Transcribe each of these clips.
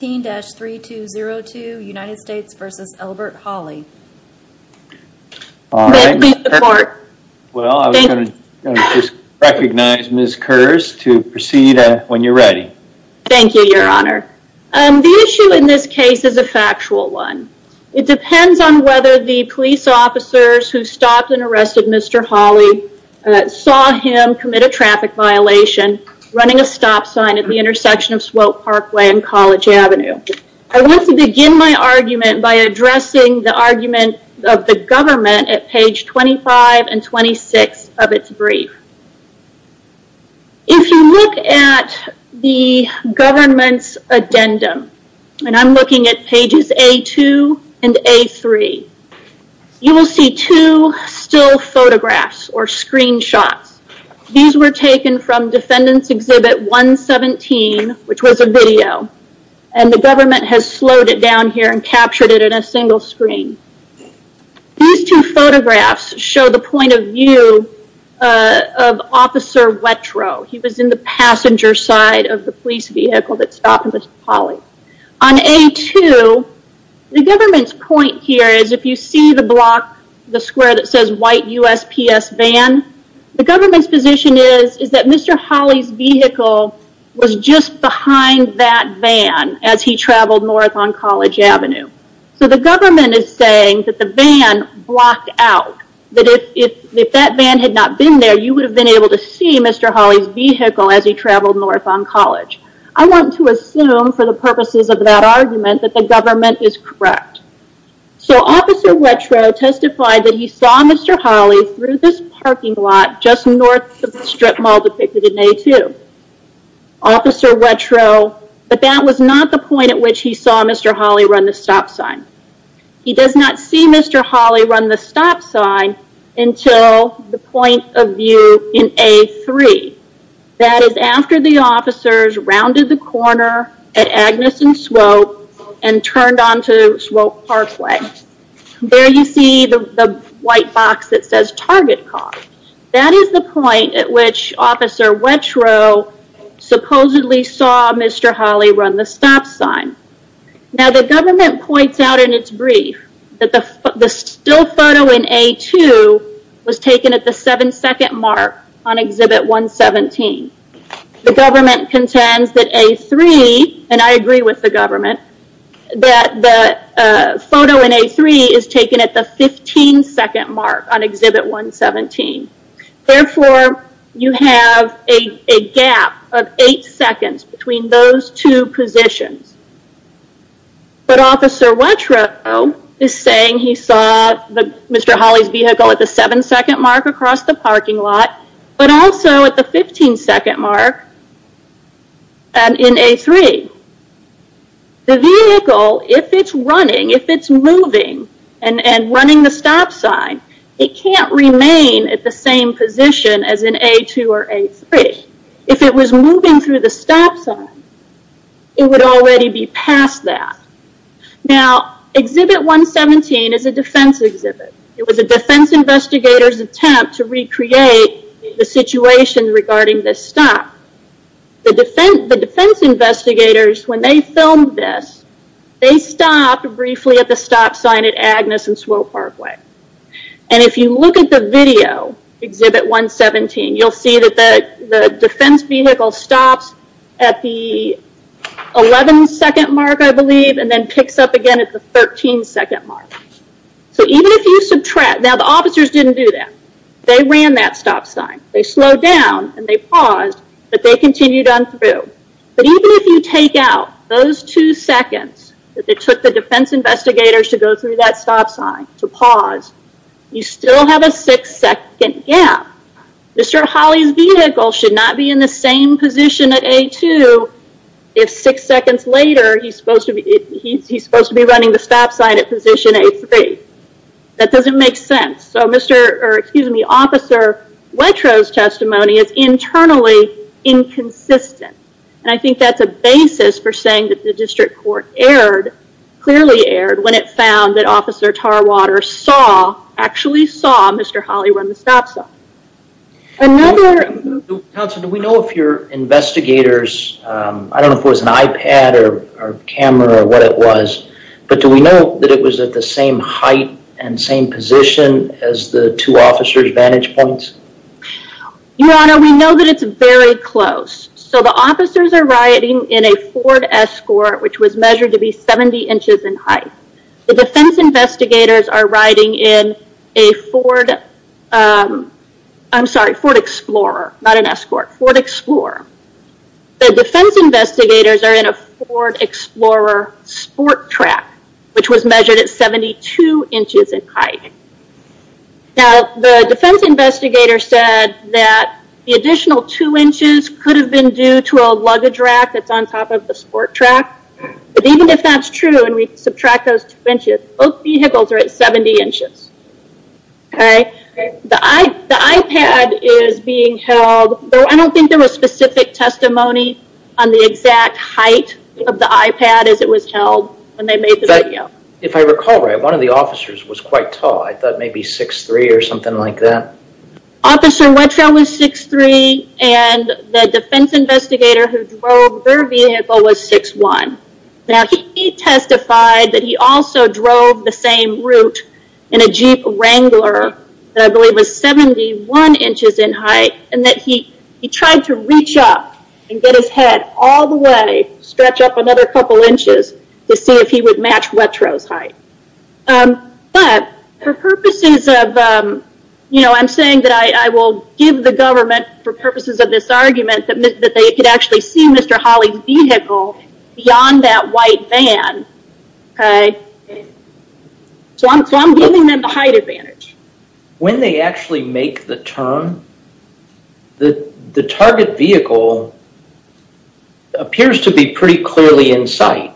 Thank you your honor. The issue in this case is a factual one. It depends on whether the police officers who stopped and arrested Mr. Holly saw him commit a traffic violation running a stop sign at the intersection of Swope Parkway and College Avenue. I want to begin my argument by addressing the argument of the government at page 25 and 26 of its brief. If you look at the government's addendum, and I'm looking at pages A2 and A3, you will see two still at 117, which was a video, and the government has slowed it down here and captured it in a single screen. These two photographs show the point of view of Officer Wettrow. He was in the passenger side of the police vehicle that stopped Mr. Holly. On A2, the government's point here is if you see the block, the square that says white USPS van, the government's position is that Mr. Holly's vehicle was just behind that van as he traveled north on College Avenue. The government is saying that the van blocked out. If that van had not been there, you would have been able to see Mr. Holly's vehicle as he traveled north on College. I want to assume, for the purposes of that argument, that the government is correct. Officer Wettrow testified that he saw Mr. Holly through this parking lot just north of the strip mall depicted in A2. Officer Wettrow, but that was not the point at which he saw Mr. Holly run the stop sign. He does not see Mr. Holly run the stop sign until the point of view in A3. That is after the officers rounded the corner at Agnes and Swope and turned onto Swope Parkway. There you see the white box that says target car. That is the point at which Officer Wettrow supposedly saw Mr. Holly run the stop sign. The government points out in its brief that the still photo in A2 was taken at the seven second mark on Exhibit 117. The government contends that A3, and I agree with the government, that the photo in A3 is taken at the 15 second mark on Exhibit 117. Therefore, you have a gap of eight seconds between those two positions. But Officer Wettrow is saying he saw Mr. Holly's vehicle at the seven second mark across the parking lot, but also at the 15 second mark and in A3. The vehicle, if it's running, if it's moving and running the stop sign, it can't remain at the same position as in A2 or A3. If it was moving through the stop sign, it would already be past that. Exhibit 117 is a defense exhibit. It was a defense investigator's attempt to recreate the situation regarding this stop. The defense investigators, when they filmed this, they stopped briefly at the stop sign at Agnes and Swope Parkway. If you look at the video, Exhibit 117, you'll see that the defense vehicle stops at the 11 second mark, I believe, and then picks up again at the 13 second mark. Even if you subtract, now the officers didn't do that. They ran that stop sign. They slowed down and they paused, but they continued on through. But even if you take out those two seconds that they took the defense investigators to go through that stop sign, to pause, you still have a six second gap. Mr. Holly's vehicle should not be in the same position at A2 if six seconds later, he's supposed to be running the stop sign at position A3. That doesn't make sense. Officer Letro's testimony is internally inconsistent. I think that's a basis for saying that the defense found that Officer Tarwater saw, actually saw Mr. Holly run the stop sign. Counselor, do we know if your investigators, I don't know if it was an iPad or a camera or what it was, but do we know that it was at the same height and same position as the two officers' vantage points? Your Honor, we know that it's very close. So the officers are riding in a Ford Escort, which was measured to be 70 inches in height. The defense investigators are riding in a Ford, I'm sorry, Ford Explorer, not an Escort, Ford Explorer. The defense investigators are in a Ford Explorer sport track, which was measured at 72 inches in height. Now, the defense investigator said that the additional two inches could have been due to a luggage rack that's on top of the sport track, but even if that's true and we subtract those two inches, both vehicles are at 70 inches. The iPad is being held, though I don't think there was specific testimony on the exact height of the iPad as it was held when they made the video. If I recall right, one of the officers was quite tall, I thought maybe 6'3", or something like that. Officer Letro was 6'3", and the defense investigator who drove their vehicle was 6'1". Now, he testified that he also drove the same route in a Jeep Wrangler that I believe was 71 inches in height, and that he tried to reach up and get his head all the way, stretch up another couple inches, to see if he would match Letro's height. But, for purposes of, you know, I'm saying that I will give the government, for purposes of this argument, that they could actually see Mr. Hawley's vehicle beyond that white van. So, I'm giving them the height advantage. When they actually make the turn, the target vehicle appears to be pretty clearly in sight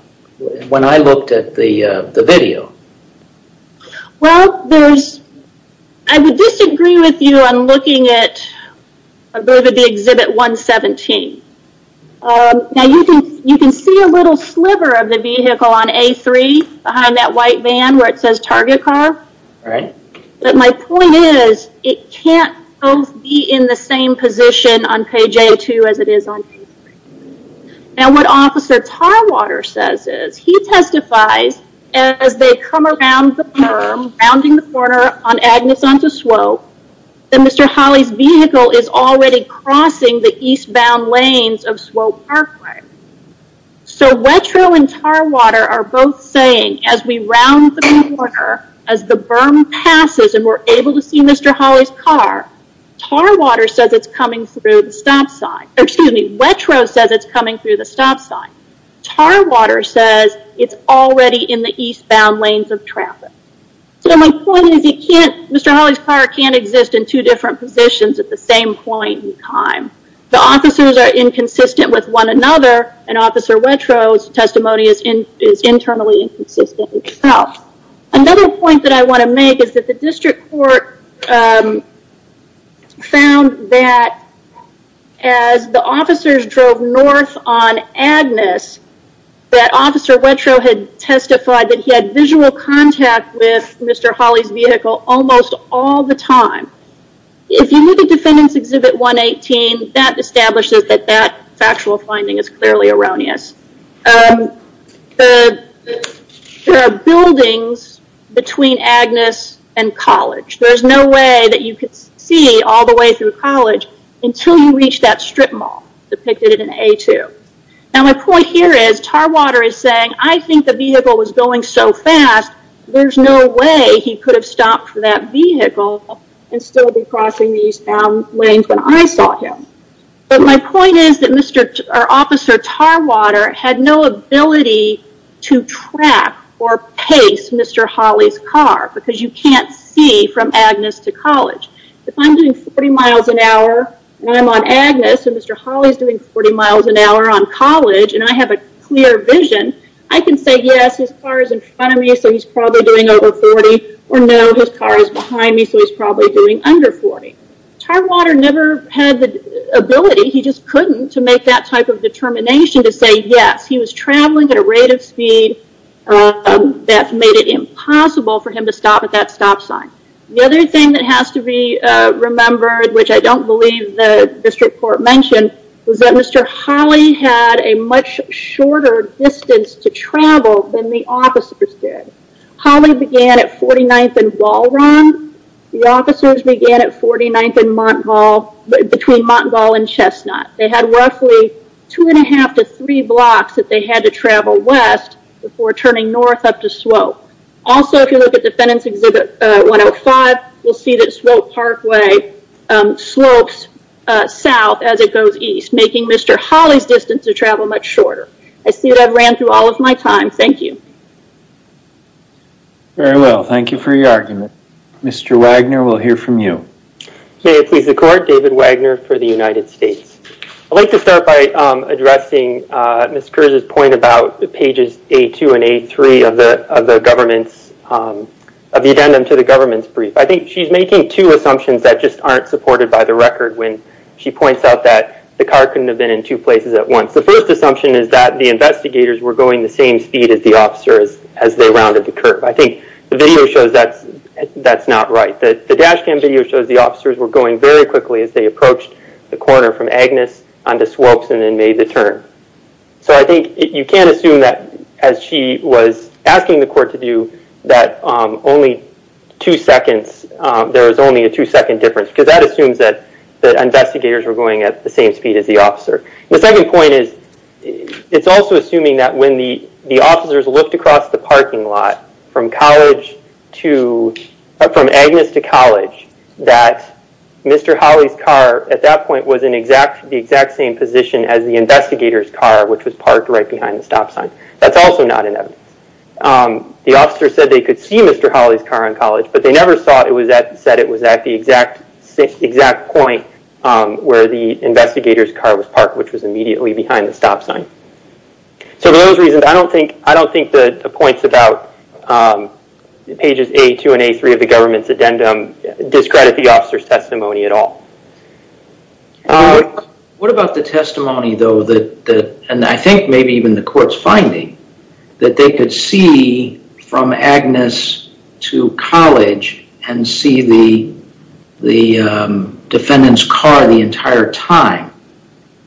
when I looked at the video. Well, I would disagree with you on looking at, I believe at the Exhibit 117. Now, you can see a little sliver of the vehicle on A3, behind that white van, where it says target car, but my point is, it can't both be in the same position on page A2 as it is on page 3. Now, what Officer Tarwater says is, he testifies, as they come around the berm, rounding the corner on Agnes onto Swope, that Mr. Hawley's vehicle is already crossing the eastbound lanes of Swope Parkway. So, Letro and Tarwater are both saying, as we round the corner, as the berm passes and we're able to see Mr. Hawley's car, Tarwater says it's coming through the stop sign. Excuse me, Letro says it's coming through the stop sign. Tarwater says it's already in the eastbound lanes of traffic. So, my point is, Mr. Hawley's car can't exist in two different positions at the same point in time. The officers are inconsistent with one another, and Officer Letro's testimony is internally inconsistent itself. Another point that I want to make is that the district court found that, as the officers drove north on Agnes, that Officer Letro had testified that he had visual contact with Mr. Hawley's vehicle almost all the time. If you look at Defendant's Exhibit 118, that establishes that that factual finding is clearly erroneous. There are buildings between Agnes and College. There's no way that you could see all the way through College until you reach that strip mall, depicted in A2. Now, my point here is, Tarwater is saying, I think the vehicle was going so fast, there's no way he could have stopped for that vehicle and still be crossing the eastbound lanes when I saw him. My point is that Officer Tarwater had no ability to track or pace Mr. Hawley's car, because you can't see from Agnes to College. If I'm doing 40 miles an hour, and I'm on Agnes, and Mr. Hawley's doing 40 miles an hour on College, and I have a clear vision, I can say, yes, his car is in front of me, so he's probably doing over 40, or no, his car is behind me, so he's probably doing under 40. Tarwater never had the ability, he just couldn't, to make that type of determination to say yes, he was traveling at a rate of speed that made it impossible for him to stop at that stop sign. The other thing that has to be remembered, which I don't believe the district court mentioned, was that Mr. Hawley had a much shorter distance to travel than the officers did. Hawley began at 49th and Walron, the officers began at 49th and Montgall, between Montgall and Chestnut. They had roughly two and a half to three blocks that they had to travel west before turning north up to Swope. Also, if you look at Defendant's Exhibit 105, you'll see that Swope Parkway slopes south as it goes east, making Mr. Hawley's distance to travel much shorter. I see that I've ran through all of my time, thank you. Very well, thank you for your argument. Mr. Wagner, we'll hear from you. May it please the court, David Wagner for the United States. I'd like to start by addressing Ms. Kurz's point about pages A2 and A3 of the addendum to the government's brief. I think she's making two assumptions that just aren't supported by the record when she points out that the car couldn't have been in two places at once. The first assumption is that the investigators were going the same speed as the officers as they rounded the curve. I think the video shows that's not right. The dash cam video shows the officers were going very quickly as they approached the corner from Agnes onto Swopes and then made the turn. I think you can't assume that, as she was asking the court to do, that there was only a two second difference because that assumes that the investigators were going at the same speed as the officer. The second point is it's also assuming that when the officers looked across the parking lot from Agnes to College, that Mr. Hawley's car at that point was in the exact same position as the investigator's car, which was parked right behind the stop sign. That's also not in evidence. The officer said they could see Mr. Hawley's car on College, but they never said it was at the exact point where the investigator's car was parked, which was immediately behind the stop sign. For those reasons, I don't think the points about pages A2 and A3 of the government's addendum discredit the officer's testimony at all. What about the testimony, though, and I think maybe even the court's finding, that they could see from Agnes to College and see the defendant's car the entire time.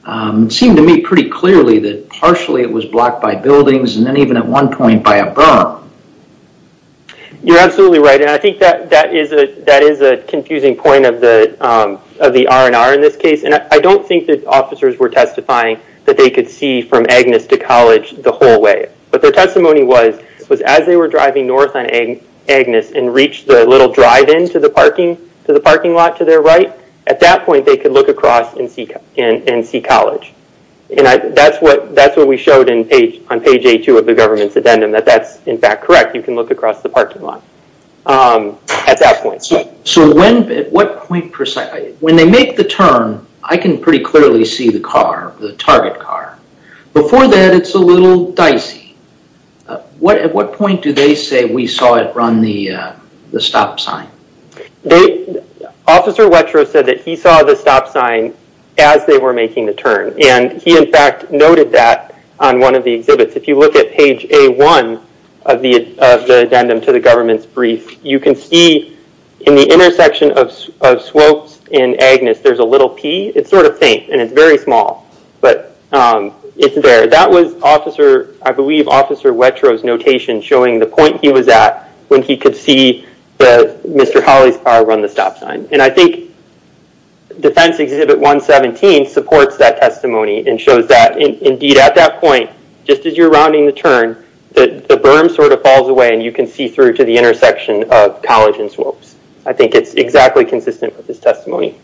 It seemed to me pretty clearly that partially it was blocked by buildings and then even at one point by a berm. You're absolutely right, and I think that is a confusing point of the R&R in this case, and I don't think that officers were testifying that they could see from Agnes to College the whole way. But their testimony was, as they were driving north on Agnes and reached the little drive into the parking lot to their right, at that point they could look across and see College. That's what we showed on page A2 of the government's addendum, that that's, in fact, correct. You can look across the parking lot at that point. At what point precisely? When they make the turn, I can pretty clearly see the car, the target car. Before that, it's a little dicey. At what point do they say, we saw it run the stop sign? Officer Wetro said that he saw the stop sign as they were making the turn, and he, in fact, noted that on one of the exhibits. If you look at page A1 of the addendum to the government's brief, you can see in the intersection of Swopes and Agnes, there's a little P. It's sort of faint, and it's very small, but it's there. That was, I believe, Officer Wetro's notation showing the point he was at when he could see Mr. Holley's car run the stop sign. And I think Defense Exhibit 117 supports that testimony and shows that, indeed, at that point, just as you're rounding the turn, the berm sort of falls away, and you can see through to the intersection of College and Swopes. I think it's exactly consistent with his testimony.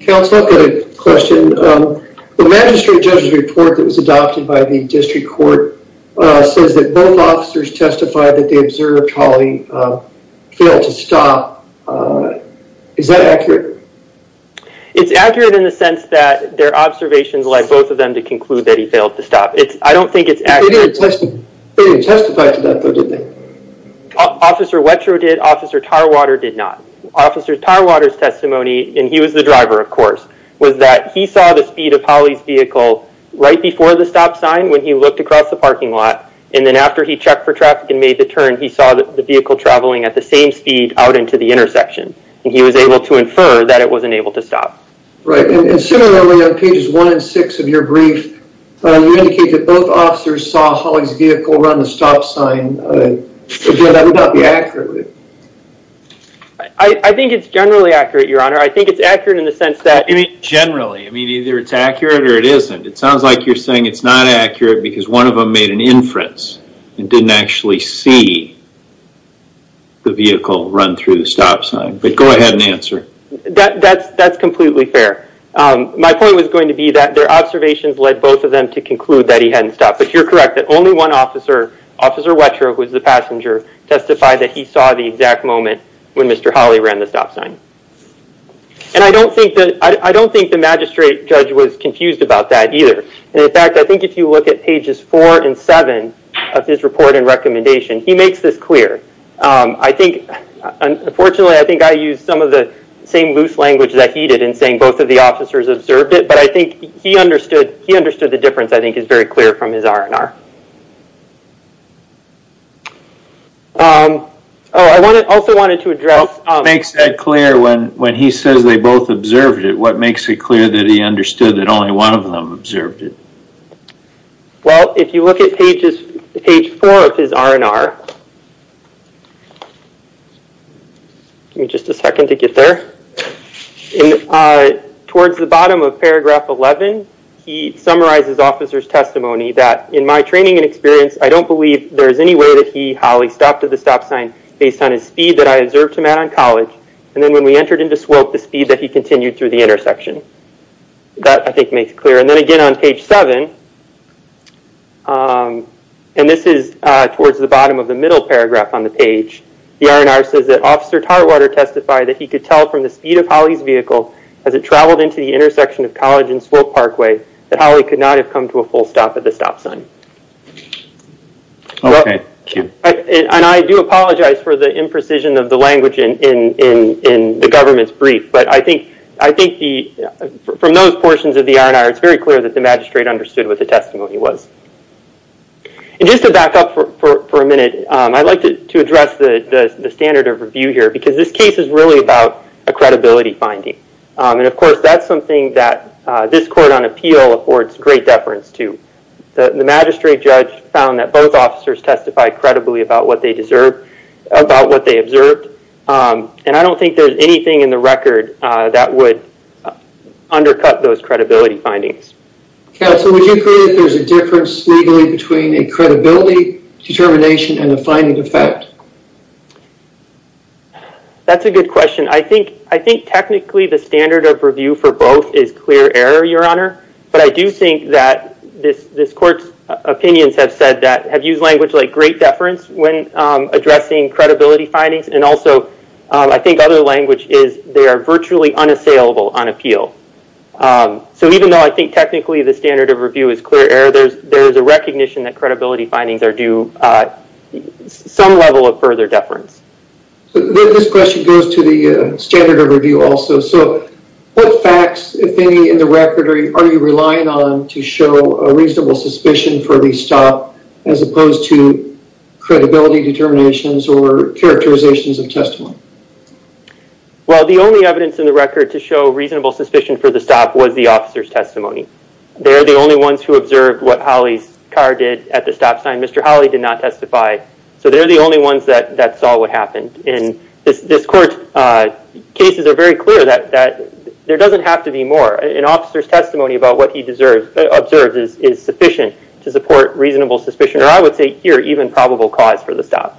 Counsel, I've got a question. The magistrate judge's report that was adopted by the district court says that both officers testified that they observed Holley fail to stop. Is that accurate? It's accurate in the sense that their observations led both of them to conclude that he failed to stop. I don't think it's accurate. They didn't testify to that, though, did they? Officer Wetro did. Officer Tarwater did not. Officer Tarwater's testimony, and he was the driver, of course, was that he saw the speed of Holley's vehicle right before the stop sign when he looked across the parking lot, and then after he checked for traffic and made the turn, he saw the vehicle traveling at the same speed out into the intersection, and he was able to infer that it wasn't able to stop. Right. And similarly, on pages one and six of your brief, you indicate that both officers saw Holley's vehicle run the stop sign. Again, that would not be accurate. Would it? I think it's generally accurate, Your Honor. I think it's accurate in the sense that... You mean generally? I mean, either it's accurate or it isn't. It sounds like you're saying it's not accurate because one of them made an inference and didn't actually see the vehicle run through the stop sign, but go ahead and answer. That's completely fair. My point was going to be that their observations led both of them to conclude that he hadn't stopped, but you're correct, that only one officer, Officer Wetro, who was the passenger, testified that he saw the exact moment when Mr. Holley ran the stop sign. And I don't think the magistrate judge was confused about that either. And in fact, I think if you look at pages four and seven of his report and recommendation, he makes this clear. I think, unfortunately, I think I used some of the same loose language that he did in saying both of the officers observed it, but I think he understood the difference, I think, is very clear from his R&R. Oh, I also wanted to address- Makes that clear when he says they both observed it, what makes it clear that he understood that only one of them observed it? Well, if you look at page four of his R&R, give me just a second to get there. Towards the bottom of paragraph 11, he summarizes officer's testimony that, in my training and experience, I don't believe there's any way that he, Holley, stopped at the stop sign based on his speed that I observed him at on college. And then when we entered into Swope, the speed that he continued through the intersection. That, I think, makes it clear. And then again on page seven, and this is towards the bottom of the middle paragraph on the page, the R&R says that officer Tarwater testified that he could tell from the speed of Holley's vehicle as it traveled into the intersection of College and Swope Parkway that Holley could not have come to a full stop at the stop sign. Okay, thank you. And I do apologize for the imprecision of the language in the government's brief, but I think from those portions of the R&R, it's very clear that the magistrate understood what the testimony was. And just to back up for a minute, I'd like to address the standard of review here, because this case is really about a credibility finding. And of course, that's something that this court on appeal affords great deference to. The magistrate judge found that both officers testified credibly about what they observed. And I don't think there's anything in the record that would undercut those credibility findings. Counsel, would you agree that there's a difference legally between a credibility determination and a finding effect? That's a good question. I think technically the standard of review for both is clear error, Your Honor. But I do think that this court's opinions have said that, have used language like great deference when addressing credibility findings. And also, I think other language is they are virtually unassailable on appeal. So even though I think technically the standard of review is clear error, there is a recognition that credibility findings are due some level of further deference. So this question goes to the standard of review also. So what facts, if any, in the record are you relying on to show a reasonable suspicion for the stop as opposed to credibility determinations or characterizations of testimony? Well, the only evidence in the record to show reasonable suspicion for the stop was the officer's testimony. They're the only ones who observed what Holly's car did at the stop sign. Mr. Holly did not testify. So they're the only ones that saw what happened. And this court's cases are very clear that there doesn't have to be more. An officer's testimony about what he observed is sufficient to support reasonable suspicion, or I would say even probable cause for the stop.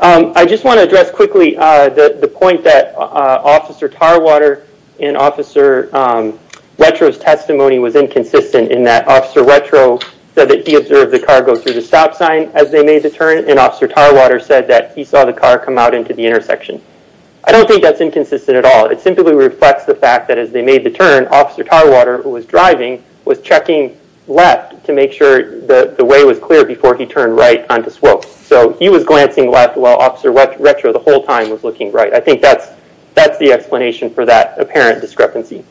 I just want to address quickly the point that Officer Tarwater and Officer Letro's testimony was inconsistent in that Officer Letro said that he observed the car go through the stop sign as they made the turn, and Officer Tarwater said that he saw the car come out into the intersection. I don't think that's inconsistent at all. It simply reflects the fact that as they made the turn, Officer Tarwater, who was driving, was checking left to make sure the way was clear before he turned right onto Swope. So he was glancing left while Officer Letro the whole time was looking right. I think that's the explanation for that apparent discrepancy.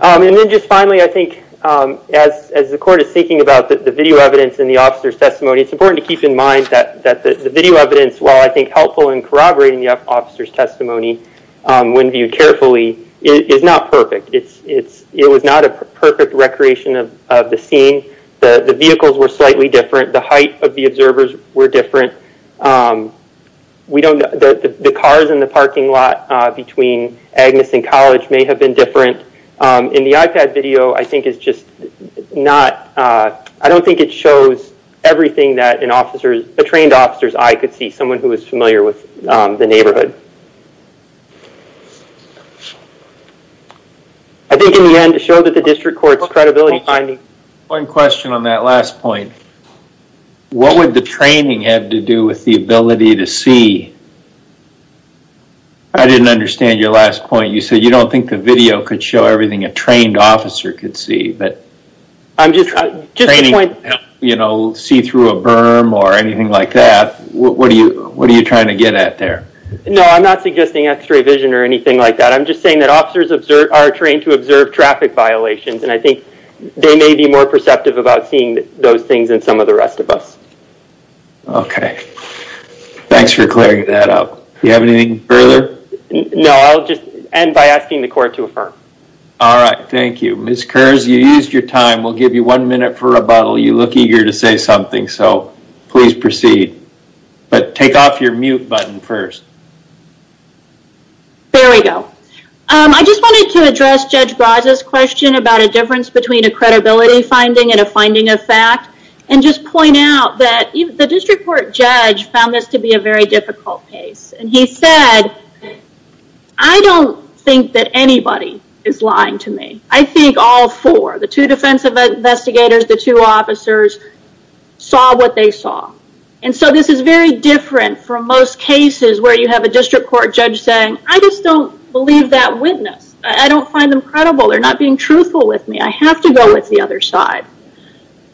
And then just finally, I think, as the court is thinking about the video evidence and the officer's testimony, it's important to keep in mind that the video evidence, while I think helpful in corroborating the officer's testimony when viewed carefully, is not perfect. It was not a perfect recreation of the scene. The vehicles were slightly different. The height of the observers were different. The cars in the parking lot between Agnes and College may have been different. In the iPad video, I don't think it shows everything that a trained officer's eye could see, someone who is familiar with the neighborhood. I think, in the end, it showed that the district court's credibility finding... With the ability to see... I didn't understand your last point. You said you don't think the video could show everything a trained officer could see, but... I'm just... You know, see through a berm or anything like that. What are you trying to get at there? No, I'm not suggesting x-ray vision or anything like that. I'm just saying that officers are trained to observe traffic violations, and I think they may be more perceptive about seeing those things than some of the rest of us. Okay. Thanks for clearing that up. You have anything further? No, I'll just end by asking the court to affirm. All right. Thank you. Ms. Kurz, you used your time. We'll give you one minute for rebuttal. You look eager to say something, so please proceed. But take off your mute button first. There we go. I just wanted to address Judge Braza's question about a difference between a credibility finding and a finding of fact, and just point out that the district court judge found this to be a very difficult case. And he said, I don't think that anybody is lying to me. I think all four, the two defensive investigators, the two officers, saw what they saw. And so this is very different from most cases where you have a district court judge saying, I just don't believe that witness. I don't find them credible. They're not being truthful with me. I have to go with the other side.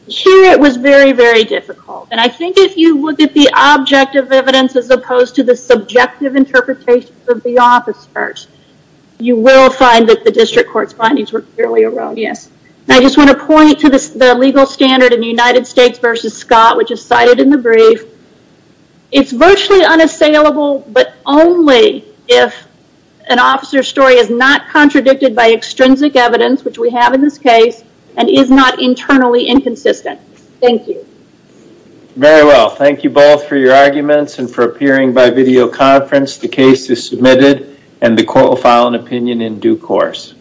Here, it was very, very difficult. And I think if you look at the objective evidence as opposed to the subjective interpretation of the officers, you will find that the district court's findings were clearly erroneous. I just want to point to the legal standard in the United States versus Scott, which is cited in the brief. It's virtually unassailable, but only if an officer's story is not contradicted by inconsistent. Thank you. Very well. Thank you both for your arguments and for appearing by video conference. The case is submitted, and the court will file an opinion in due course.